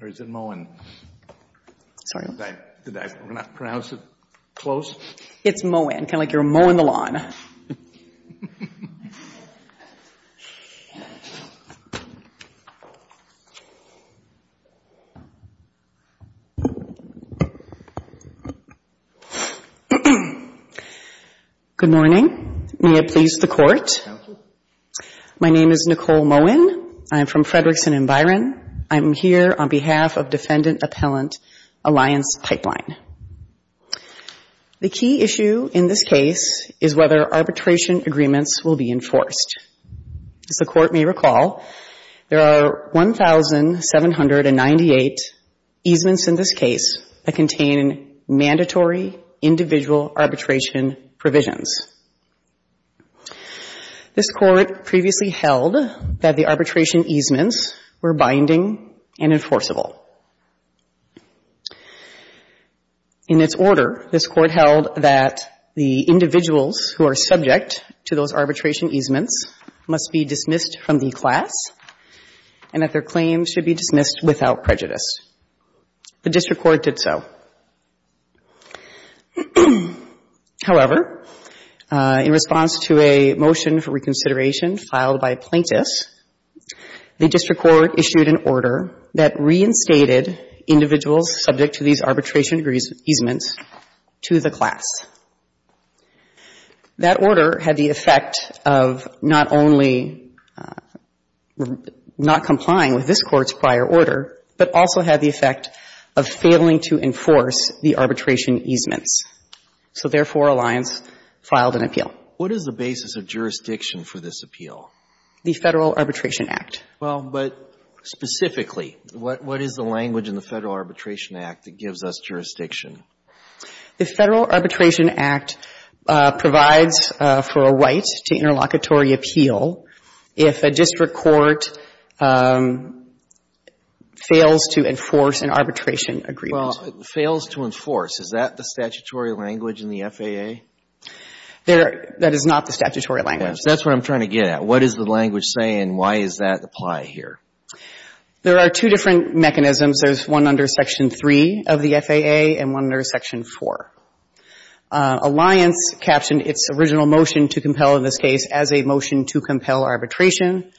Good morning, may it please the Court. My name is Nicole Moen. I am from Frederickson and Byron. I am here on behalf of Defendant Appellant Alliance Pipeline. The key issue in this case is whether arbitration agreements will be enforced. As the Court may recall, there are 1,798 easements in this case that contain mandatory individual arbitration provisions. This Court previously held that the arbitration easements were binding and enforceable. In its order, this Court held that the individuals who are subject to those arbitration easements must be dismissed from the class and that their claims should be dismissed without prejudice. The District Court did so. However, in response to a motion for reconsideration filed by plaintiffs, the District Court issued an order that reinstated individuals subject to these arbitration easements to the class. That order had the effect of not only not complying with this Court's prior order, but also had the effect of failing to enforce the arbitration easements. So, therefore, Alliance filed an appeal. What is the basis of jurisdiction for this appeal? The Federal Arbitration Act. Well, but specifically, what is the language in the Federal Arbitration Act that gives us jurisdiction? The Federal Arbitration Act provides for a right to interlocutory appeal if a district court fails to enforce an arbitration agreement. Well, it fails to enforce. Is that the statutory language in the FAA? That is not the statutory language. That's what I'm trying to get at. What is the language saying? Why does that apply here? There are two different mechanisms. There's one under Section 3 of the FAA and one under Section 4. Alliance captioned its original motion to compel, in this case, as a motion to compel arbitration,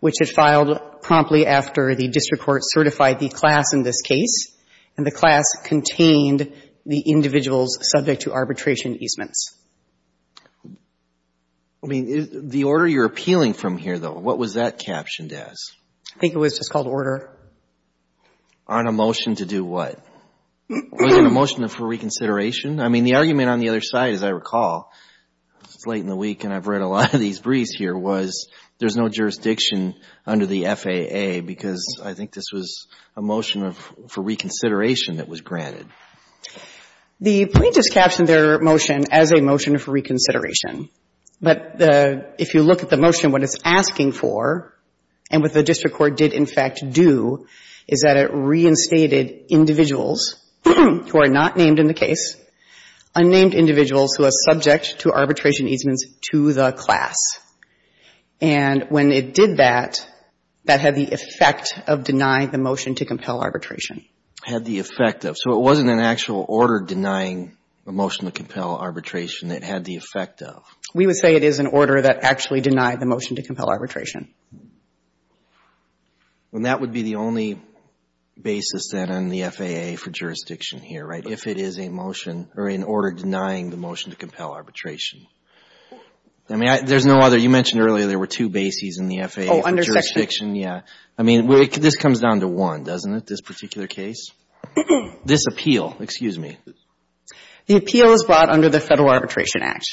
which it filed promptly after the district court certified the class in this case, and the class contained the individual's subject-to-arbitration easements. I mean, the order you're appealing from here, though, what was that captioned as? I think it was just called order. On a motion to do what? Was it a motion for reconsideration? I mean, the argument on the other side, as I recall, it's late in the week and I've heard a lot of these briefs here, was there's no jurisdiction under the FAA, because I think this was a motion for reconsideration that was granted. The plaintiffs captioned their motion as a motion for reconsideration. But if you look at the motion, what it's asking for and what the district court did, in fact, do is that it reinstated individuals who are not named in the case, unnamed individuals who are subject to arbitration easements to the class. And when it did that, that had the effect of denying the motion to compel arbitration. Had the effect of. So it wasn't an actual order denying a motion to compel arbitration. It had the effect of. We would say it is an order that actually denied the motion to compel arbitration. And that would be the only basis then on the FAA for jurisdiction here, right? If it is a motion or in order denying the motion to compel arbitration. I mean, there's no other. You mentioned earlier there were two bases in the FAA for jurisdiction. I mean, this comes down to one, doesn't it? This particular case. This appeal, excuse me. The appeal is brought under the Federal Arbitration Act.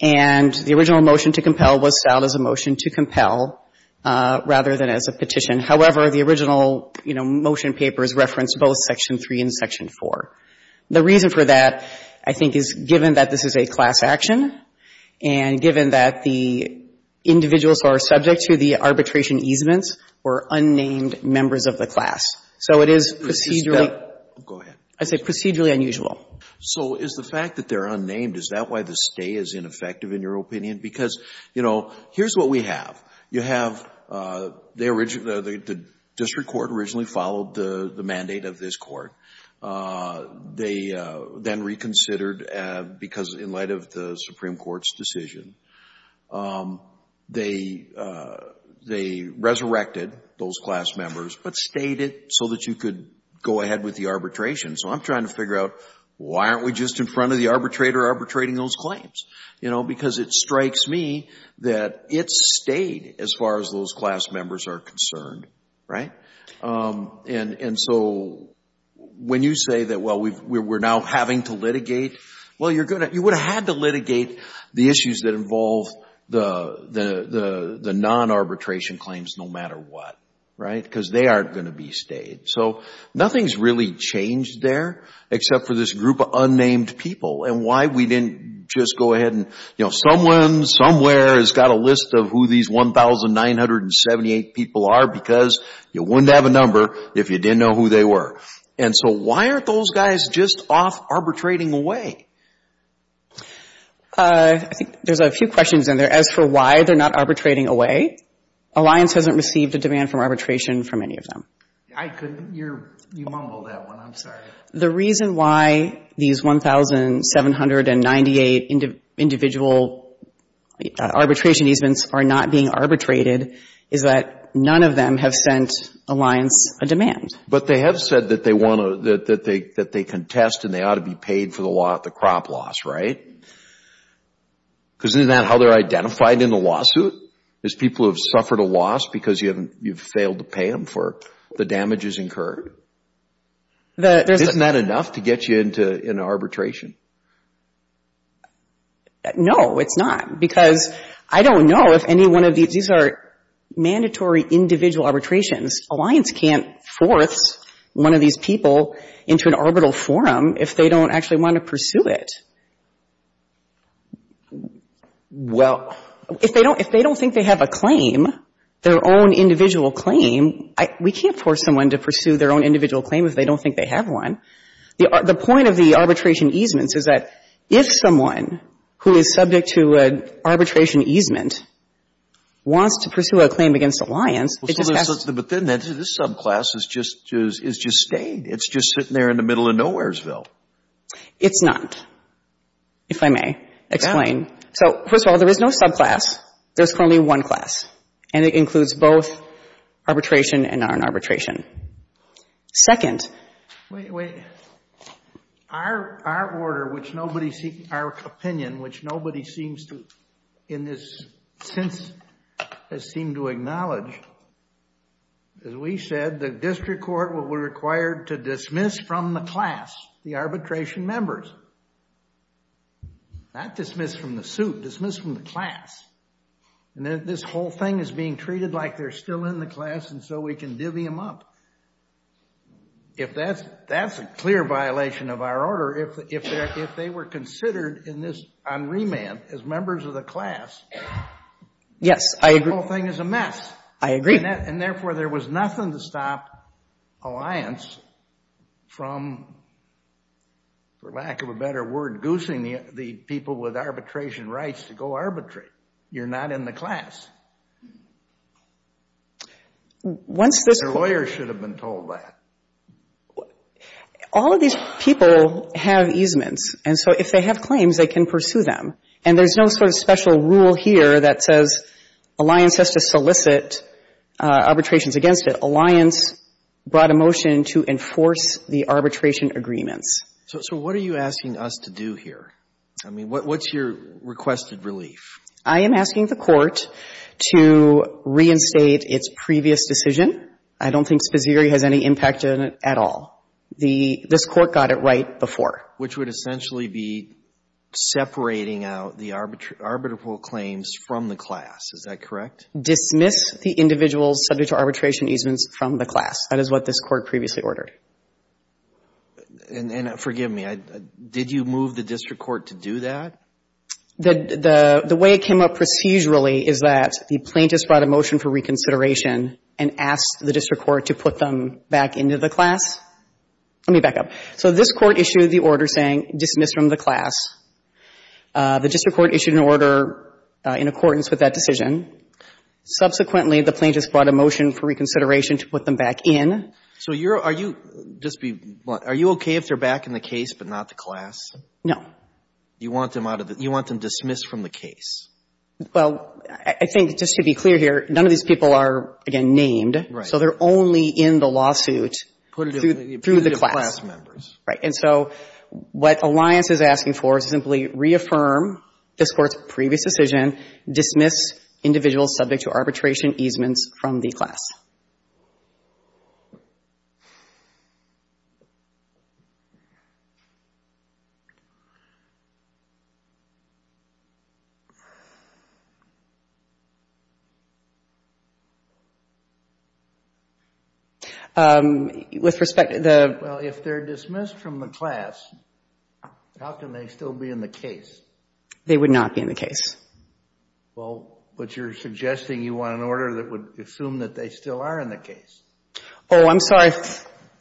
And the original motion to compel was filed as a motion to compel rather than as a petition. However, the original, you know, motion papers reference both Section 3 and Section 4. The reason for that, I think, is given that this is a class action and given that the individuals who are subject to the arbitration easements were unnamed members of the class. So it is procedurally. Go ahead. I say procedurally unusual. So is the fact that they're unnamed, is that why the stay is ineffective in your opinion? Because, you know, here's what we have. You have the district court originally followed the mandate of this court. They then reconsidered, because in light of the Supreme Court's decision, they resurrected those class members, but stayed it so that you could go ahead with the arbitration. So I'm trying to figure out, why aren't we just in front of the arbitrator arbitrating those claims? You know, because it strikes me that it stayed as far as those class members are concerned, right? And so when you say that, well, we're now having to litigate, well, you're going to, you would have had to litigate the issues that involve the non-arbitration claims no matter what, right? Because they aren't going to be stayed. So nothing's really changed there except for this group of unnamed people. And why we didn't just go ahead and, you know, someone, somewhere has got a list of who these 1,978 people are, because you wouldn't have a number if you didn't know who they were. And so why aren't those guys just off arbitrating away? I think there's a few questions in there. As for why they're not arbitrating away, Alliance hasn't received a demand from arbitration from any of them. I couldn't, you're, you mumbled that one, I'm sorry. The reason why these 1,798 individual arbitration easements are not being arbitrated is that none of them have sent Alliance a demand. But they have said that they want to, that they contest and they ought to be paid for the crop loss, right? Because isn't that how they're identified in the lawsuit, is people who have suffered a loss because you haven't, you've failed to pay them for the damages incurred? Isn't that enough to get you into an arbitration? No, it's not. Because I don't know if any one of these, these are mandatory individual arbitrations. Alliance can't force one of these people into an arbitral forum if they don't actually want to pursue it. Well. If they don't think they have a claim, their own individual claim, we can't force someone to pursue their own individual claim if they don't think they have one. The point of the arbitration easements is that if someone who is subject to an arbitration easement wants to pursue a claim against Alliance, it just has to. But then this subclass is just, is just staying. It's just sitting there in the middle of nowheresville. It's not, if I may explain. So, first of all, there is no subclass. There's currently one class. And it includes both arbitration and non-arbitration. Second. Wait, wait. Our order, which nobody, our opinion, which nobody seems to, in this sense, has seemed to acknowledge, as we said, the district court will be required to dismiss from the class the arbitration members. Not dismiss from the suit, dismiss from the class. And then this whole thing is being treated like they're still in the class, and so we can divvy them up. If that's a clear violation of our order, if they were considered in this, on remand, as members of the class, the whole thing is a mess. I agree. And therefore, there was nothing to stop Alliance from, for lack of a better word, inducing the people with arbitration rights to go arbitrate. You're not in the class. Once this court- Your lawyers should have been told that. All of these people have easements. And so if they have claims, they can pursue them. And there's no sort of special rule here that says Alliance has to solicit arbitrations against it. Alliance brought a motion to enforce the arbitration agreements. So what are you asking us to do here? I mean, what's your requested relief? I am asking the court to reinstate its previous decision. I don't think Spazeri has any impact on it at all. The — this court got it right before. Which would essentially be separating out the arbitral claims from the class. Is that correct? Dismiss the individuals subject to arbitration easements from the class. That is what this court previously ordered. And forgive me, did you move the district court to do that? The way it came up procedurally is that the plaintiff brought a motion for reconsideration and asked the district court to put them back into the class. Let me back up. So this court issued the order saying dismiss from the class. The district court issued an order in accordance with that decision. Subsequently, the plaintiff brought a motion for reconsideration to put them back in. So you're — are you — just be — are you okay if they're back in the case but not the class? No. You want them out of the — you want them dismissed from the case? Well, I think, just to be clear here, none of these people are, again, named. Right. So they're only in the lawsuit through the class. Through the class members. Right. And so what Alliance is asking for is simply reaffirm this court's previous decision, dismiss individuals subject to arbitration easements from the class. Okay. With respect to the — Well, if they're dismissed from the class, how can they still be in the case? They would not be in the case. Well, but you're suggesting you want an order that would assume that they still are in the case. Oh, I'm sorry.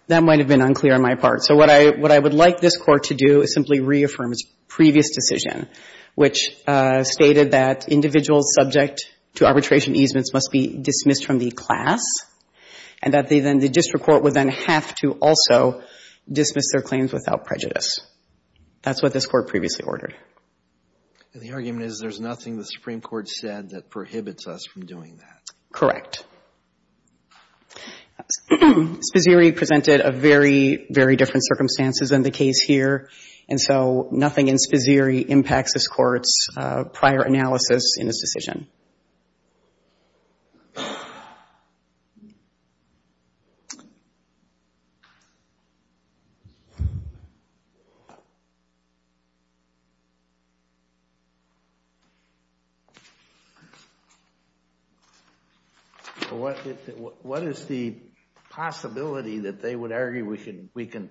That might have been unclear on my part. So what I — what I would like this court to do is simply reaffirm its previous decision, which stated that individuals subject to arbitration easements must be dismissed from the class and that they then — the district court would then have to also dismiss their claims without prejudice. That's what this court previously ordered. And the argument is there's nothing the Supreme Court said that prohibits us from doing that. Correct. Spizzeri presented a very, very different circumstances than the case here, and so nothing in Spizzeri impacts this court's prior analysis in this decision. What is the possibility that they would argue we can — we can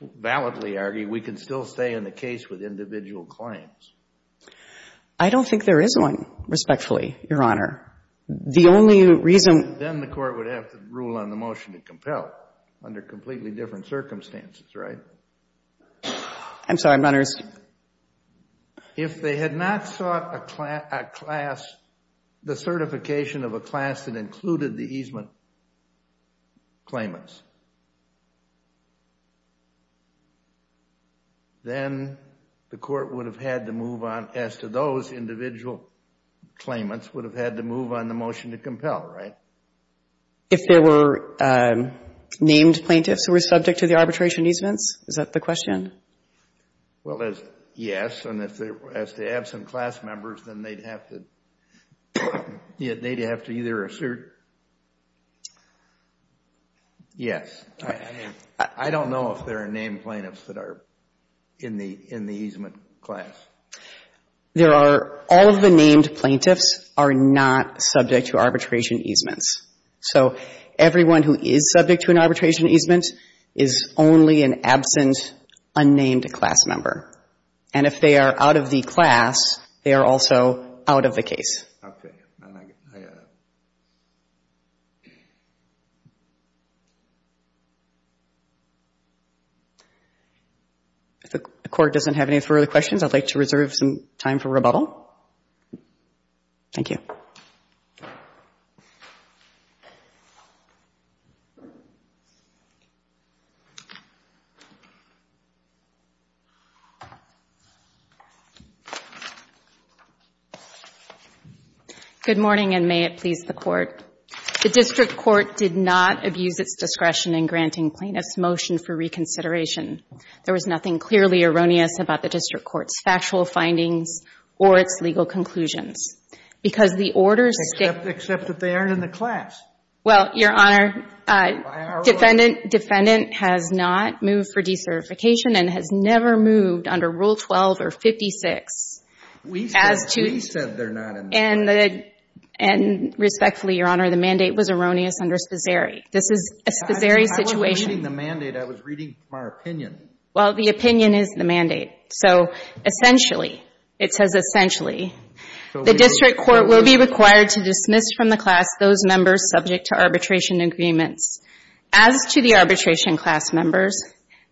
validly argue we can still stay in the case with individual claims? I don't think there is one, respectfully, Your Honor. The only reason — Then the court would have to rule on the motion to compel under completely different circumstances, right? I'm sorry. I'm not — If they had not sought a class — the certification of a class that included the easement claimants, then the court would have had to move on, as to those individual claimants, would have had to move on the motion to compel, right? If there were named plaintiffs who were subject to the arbitration easements? Is that the question? Well, yes, and if they were absent class members, then they'd have to — they'd have to either assert — yes. I don't know if there are named plaintiffs that are in the easement class. There are — all of the named plaintiffs are not subject to arbitration easements. So everyone who is subject to an arbitration easement is only an absent, unnamed class member. And if they are out of the class, they are also out of the case. Okay. I — If the court doesn't have any further questions, I'd like to reserve some time for rebuttal. Thank you. Good morning, and may it please the Court. The district court did not abuse its discretion in granting plaintiffs' motion for reconsideration. There was nothing clearly erroneous about the district court's factual findings or its legal conclusions. Because the order states — Except that they aren't in the class. Well, Your Honor, defendant has not moved for decertification and has never moved under Rule 12 or 56. We said they're not in the class. And respectfully, Your Honor, the mandate was erroneous under Spisari. This is a Spisari situation. I wasn't reading the mandate. I was reading my opinion. Well, the opinion is the mandate. So essentially, it says essentially, the district court will be required to dismiss from the class those members subject to arbitration agreements. As to the arbitration class members,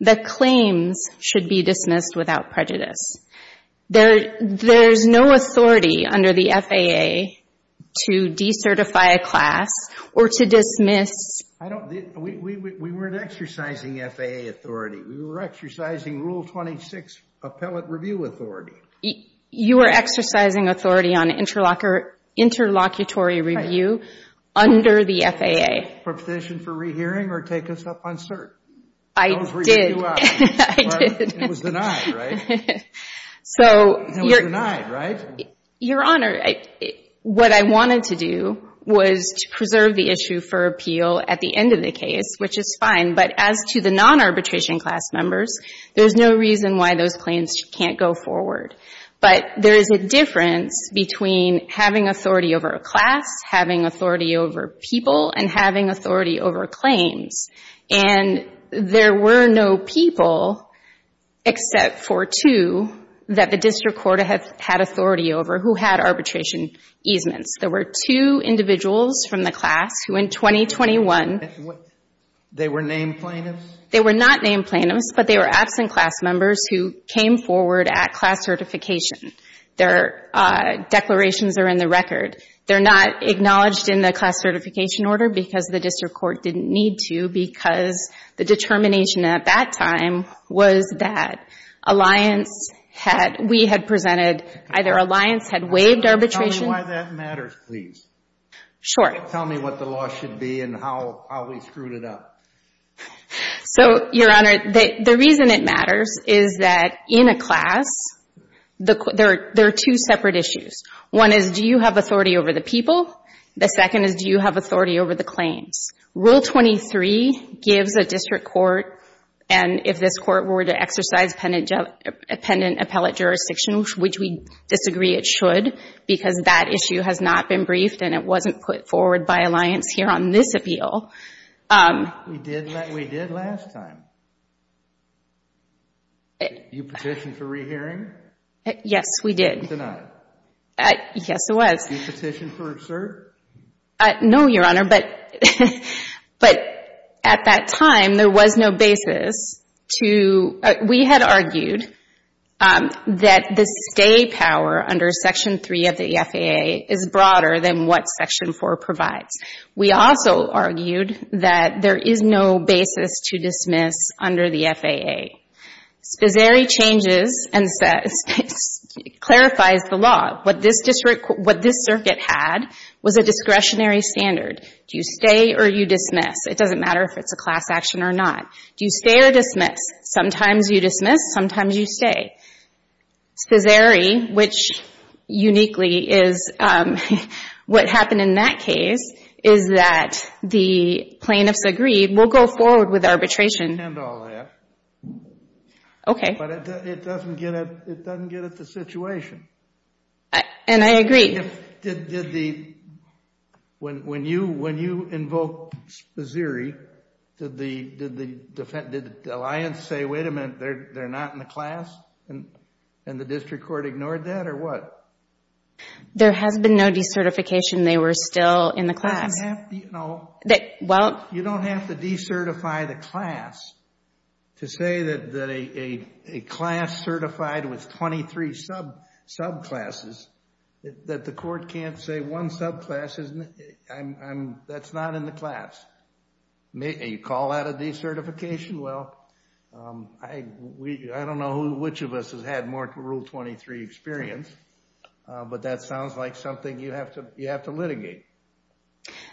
the claims should be dismissed without prejudice. There's no authority under the FAA to decertify a class or to dismiss — I don't — we weren't exercising FAA authority. We were exercising Rule 26 appellate review authority. You were exercising authority on interlocutory review under the FAA. For petition for rehearing or take us up on cert? I did. It was denied, right? So — It was denied, right? Your Honor, what I wanted to do was to preserve the issue for appeal at the end of the case, which is fine. But as to the non-arbitration class members, there's no reason why those claims can't go forward. But there is a difference between having authority over a class, having authority over people, and having authority over claims. And there were no people except for two that the district court had authority over who had arbitration easements. There were two individuals from the class who in 2021 — They were named plaintiffs? They were not named plaintiffs, but they were absent class members who came forward at class certification. Their declarations are in the record. They're not acknowledged in the class certification order because the district court didn't need to, because the determination at that time was that Alliance had — we had presented — either Alliance had waived arbitration — Tell me why that matters, please. Sure. Tell me what the law should be and how we screwed it up. So, Your Honor, the reason it matters is that in a class, there are two separate issues. One is, do you have authority over the people? The second is, do you have authority over the claims? Rule 23 gives a district court, and if this court were to exercise appendant appellate jurisdiction, which we disagree it should because that issue has not been briefed and it wasn't put forward by Alliance here on this appeal — We did last time. You petitioned for rehearing? Yes, we did. You denied it? Yes, I was. You petitioned for cert? No, Your Honor, but at that time, there was no basis to — We had argued that the stay power under Section 3 of the FAA is broader than what Section 4 provides. We also argued that there is no basis to dismiss under the FAA. Spezzeri changes and clarifies the law. What this circuit had was a discretionary standard. Do you stay or do you dismiss? It doesn't matter if it's a class action or not. Do you stay or dismiss? Sometimes you dismiss, sometimes you stay. Spezzeri, which uniquely is what happened in that case, is that the plaintiffs agreed, we'll go forward with arbitration. I understand all that. Okay. But it doesn't get at the situation. And I agree. When you invoked Spezzeri, did the alliance say, wait a minute, they're not in the class, and the district court ignored that, or what? There has been no decertification. They were still in the class. You don't have to decertify the class to say that a class certified with 23 subclasses, that the court can't say one subclass, that's not in the class. You call that a decertification? Well, I don't know which of us has had more Rule 23 experience, but that sounds like something you have to litigate.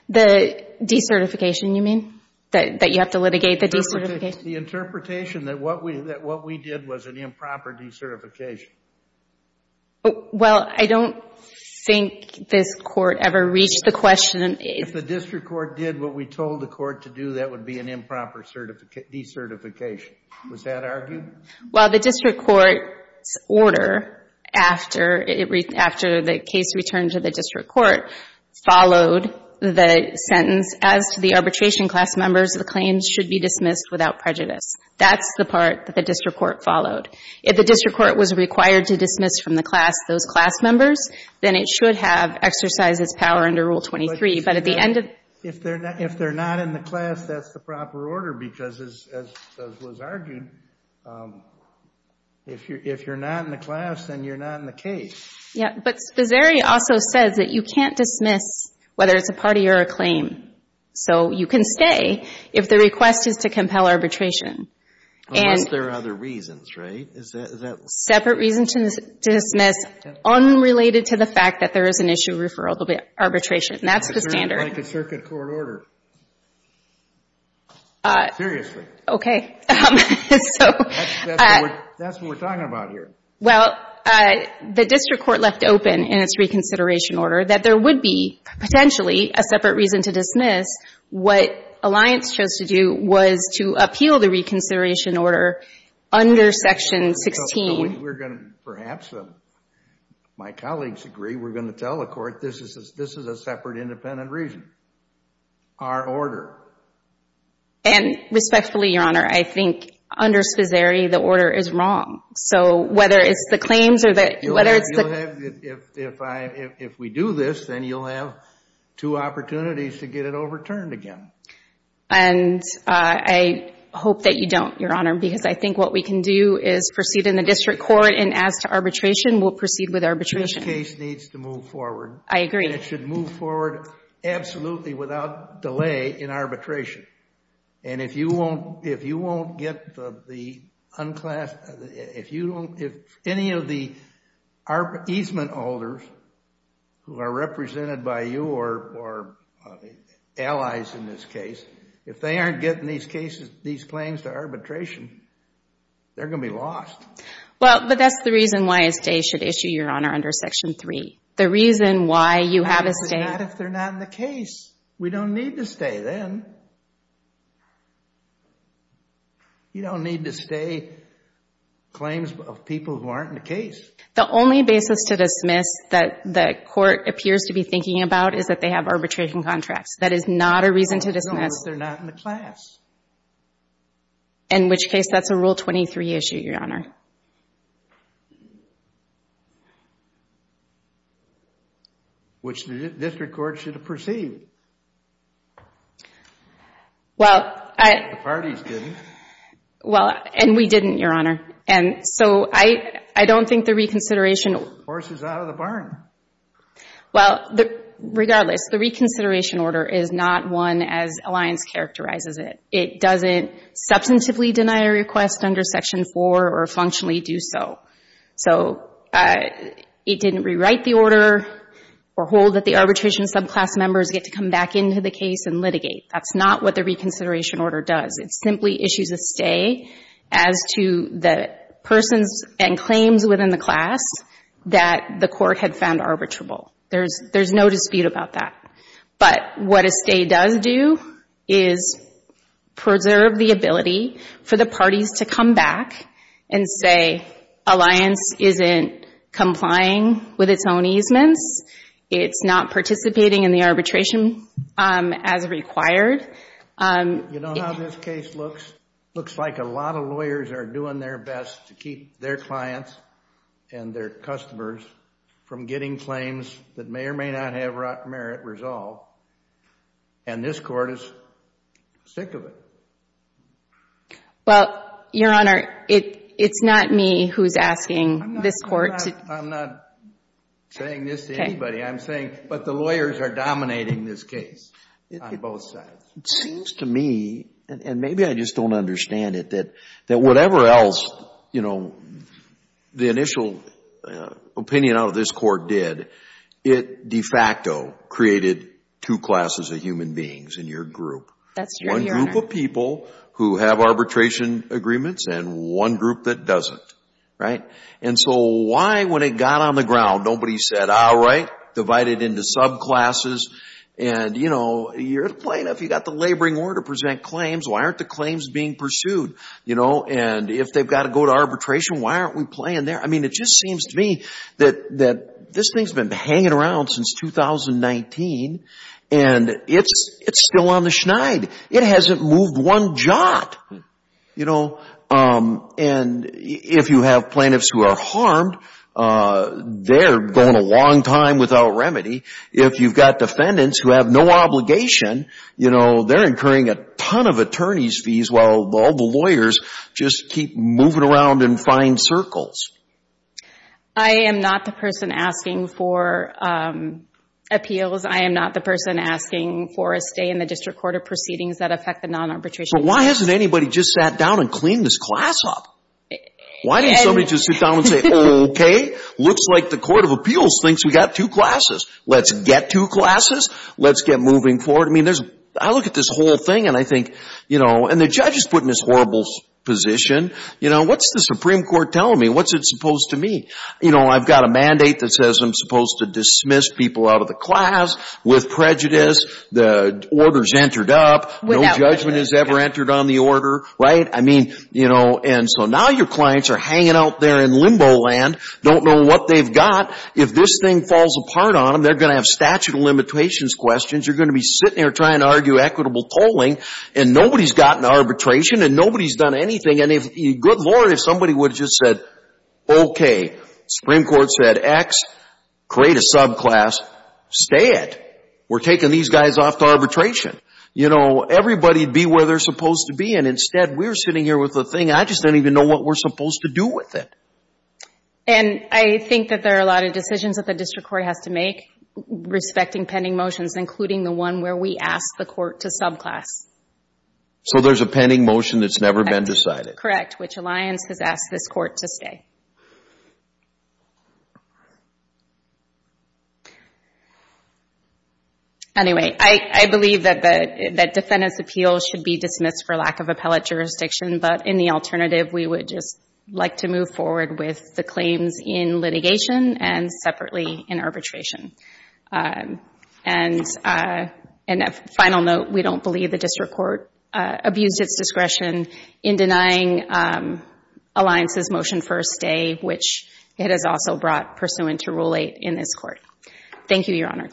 The decertification, you mean? That you have to litigate the decertification? The interpretation that what we did was an improper decertification. Well, I don't think this Court ever reached the question. If the district court did what we told the court to do, that would be an improper decertification. Was that argued? Well, the district court's order, after the case returned to the district court, followed the sentence, as to the arbitration class members, the claims should be dismissed without prejudice. That's the part that the district court followed. If the district court was required to dismiss from the class those class members, then it should have exercised its power under Rule 23. But at the end of the day… If they're not in the class, that's the proper order, because as was argued, if you're not in the class, then you're not in the case. Yeah, but Sposari also says that you can't dismiss, whether it's a party or a claim. So you can stay if the request is to compel arbitration. Unless there are other reasons, right? Separate reason to dismiss unrelated to the fact that there is an issue of referral to arbitration. That's the standard. Like a circuit court order. Seriously. Okay. That's what we're talking about here. Well, the district court left open in its reconsideration order that there would be potentially a separate reason to dismiss. What Alliance chose to do was to appeal the reconsideration order under Section 16. So we're going to perhaps, my colleagues agree, we're going to tell the court this is a separate independent reason. Our order. And respectfully, Your Honor, I think under Sposari the order is wrong. So whether it's the claims or whether it's the… If we do this, then you'll have two opportunities to get it overturned again. And I hope that you don't, Your Honor, because I think what we can do is proceed in the district court and as to arbitration, we'll proceed with arbitration. This case needs to move forward. I agree. It should move forward absolutely without delay in arbitration. And if you won't get the unclassified, if any of the easement holders who are represented by you or allies in this case, if they aren't getting these claims to arbitration, they're going to be lost. Well, but that's the reason why a stay should issue, Your Honor, under Section 3. The reason why you have a stay… Not if they're not in the case. We don't need to stay then. You don't need to stay claims of people who aren't in the case. The only basis to dismiss that the court appears to be thinking about is that they have arbitration contracts. That is not a reason to dismiss… As long as they're not in the class. In which case, that's a Rule 23 issue, Your Honor. Right. Which the district court should have perceived. Well, I… The parties didn't. Well, and we didn't, Your Honor. And so, I don't think the reconsideration… Horse is out of the barn. Well, regardless, the reconsideration order is not one as Alliance characterizes it. It doesn't substantively deny a request under Section 4 or functionally do so. So, it didn't rewrite the order or hold that the arbitration subclass members get to come back into the case and litigate. That's not what the reconsideration order does. It simply issues a stay as to the persons and claims within the class that the court had found arbitrable. There's no dispute about that. But what a stay does do is preserve the ability for the parties to come back and say Alliance isn't complying with its own easements. It's not participating in the arbitration as required. You know how this case looks? Looks like a lot of lawyers are doing their best to keep their clients and their customers from getting claims that may or may not have merit resolved. And this court is sick of it. Well, Your Honor, it's not me who's asking this court to… I'm not saying this to anybody. I'm saying, but the lawyers are dominating this case on both sides. It seems to me, and maybe I just don't understand it, that whatever else the initial opinion out of this court did, it de facto created two classes of human beings in your group. That's right, Your Honor. One group of people who have arbitration agreements and one group that doesn't. Right? And so why, when it got on the ground, nobody said, all right, divide it into subclasses, and you're the plaintiff. You've got the laboring order to present claims. Why aren't the claims being pursued? And if they've got to go to arbitration, why aren't we playing there? I mean, it just seems to me that this thing's been hanging around since 2019, and it's still on the schneid. It hasn't moved one jot. And if you have plaintiffs who are harmed, they're going a long time without remedy. If you've got defendants who have no obligation, you know, they're incurring a ton of attorney's fees while all the lawyers just keep moving around in fine circles. I am not the person asking for appeals. I am not the person asking for a stay in the District Court of Proceedings that affect the non-arbitration. But why hasn't anybody just sat down and cleaned this class up? Why didn't somebody just sit down and say, okay, looks like the Court of Appeals thinks we've got two classes. Let's get two classes. Let's get moving forward. I mean, I look at this whole thing, and I think, you know, and the judge is put in this horrible position. You know, what's the Supreme Court telling me? What's it supposed to mean? You know, I've got a mandate that says I'm supposed to dismiss people out of the class with prejudice. The order's entered up. No judgment has ever entered on the order. Right? I mean, you know, and so now your clients are hanging out there in limbo land, don't know what they've got. If this thing falls apart on them, they're going to have statute of limitations questions. You're going to be sitting there trying to argue equitable polling, and nobody's gotten arbitration, and nobody's done anything. And good Lord, if somebody would have just said, okay, Supreme Court said X, create a subclass, stay it. We're taking these guys off to arbitration. You know, everybody would be where they're supposed to be, and instead we're sitting here with the thing. I just don't even know what we're supposed to do with it. And I think that there are a lot of decisions that the district court has to make, respecting pending motions, including the one where we ask the court to subclass. So there's a pending motion that's never been decided? That's correct, which alliance has asked this court to stay. Anyway, I believe that defendant's appeal should be dismissed for lack of appellate jurisdiction, but in the alternative we would just like to move forward with the claims in litigation and separately in arbitration. And a final note, we don't believe the district court abused its discretion in denying alliance's motion for a stay, which it has also brought pursuant to Rule 8 in this court. Thank you, Your Honor.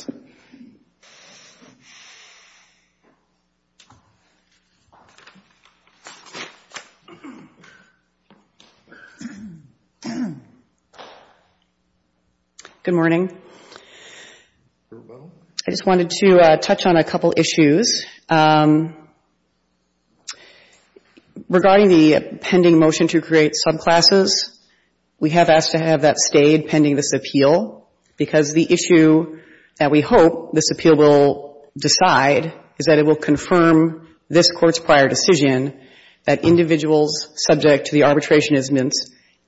Good morning. I just wanted to touch on a couple issues. Regarding the pending motion to create subclasses, we have asked to have that stayed pending this appeal, because the issue that we hope this appeal will decide is that it will confirm this court's prior decision that individuals subject to the arbitrationism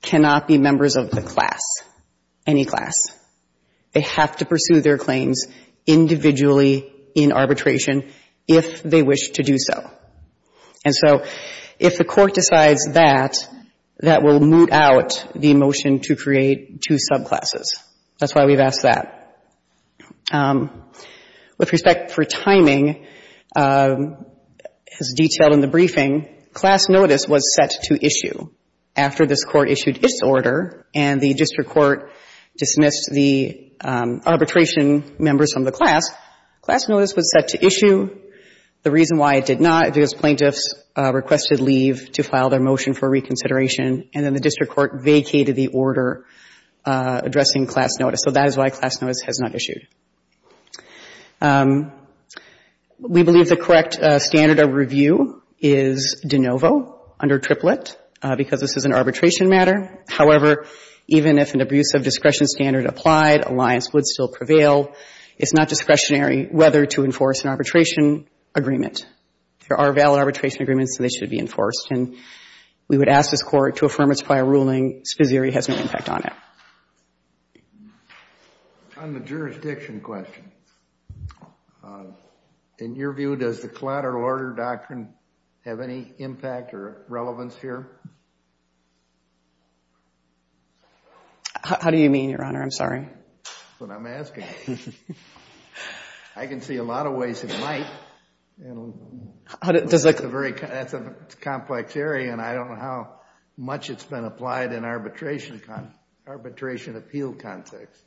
cannot be members of the class, any class. They have to pursue their claims individually in arbitration if they wish to do so. And so if the court decides that, that will moot out the motion to create two subclasses. That's why we've asked that. With respect for timing, as detailed in the briefing, class notice was set to issue after this court issued its order and the district court dismissed the arbitration members from the class. Class notice was set to issue. The reason why it did not is because plaintiffs requested leave to file their motion for reconsideration, and then the district court vacated the order addressing class notice. So that is why class notice has not issued. We believe the correct standard of review is de novo, under triplet, because this is an arbitration matter. However, even if an abusive discretion standard applied, alliance would still prevail. It's not discretionary whether to enforce an arbitration agreement. There are valid arbitration agreements, and they should be enforced. And we would ask this court to affirm its prior ruling, spesere has no impact on it. On the jurisdiction question, in your view, does the collateral order doctrine have any impact or relevance here? How do you mean, Your Honor? I'm sorry. That's what I'm asking. I can see a lot of ways it might. That's a complex area, and I don't know how much it's been applied in arbitration appeal context.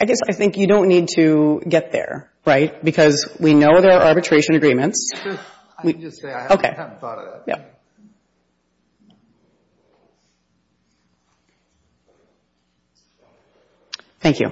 I guess I think you don't need to get there, right? Because we know there are arbitration agreements. I can just say I haven't thought of that. Thank you.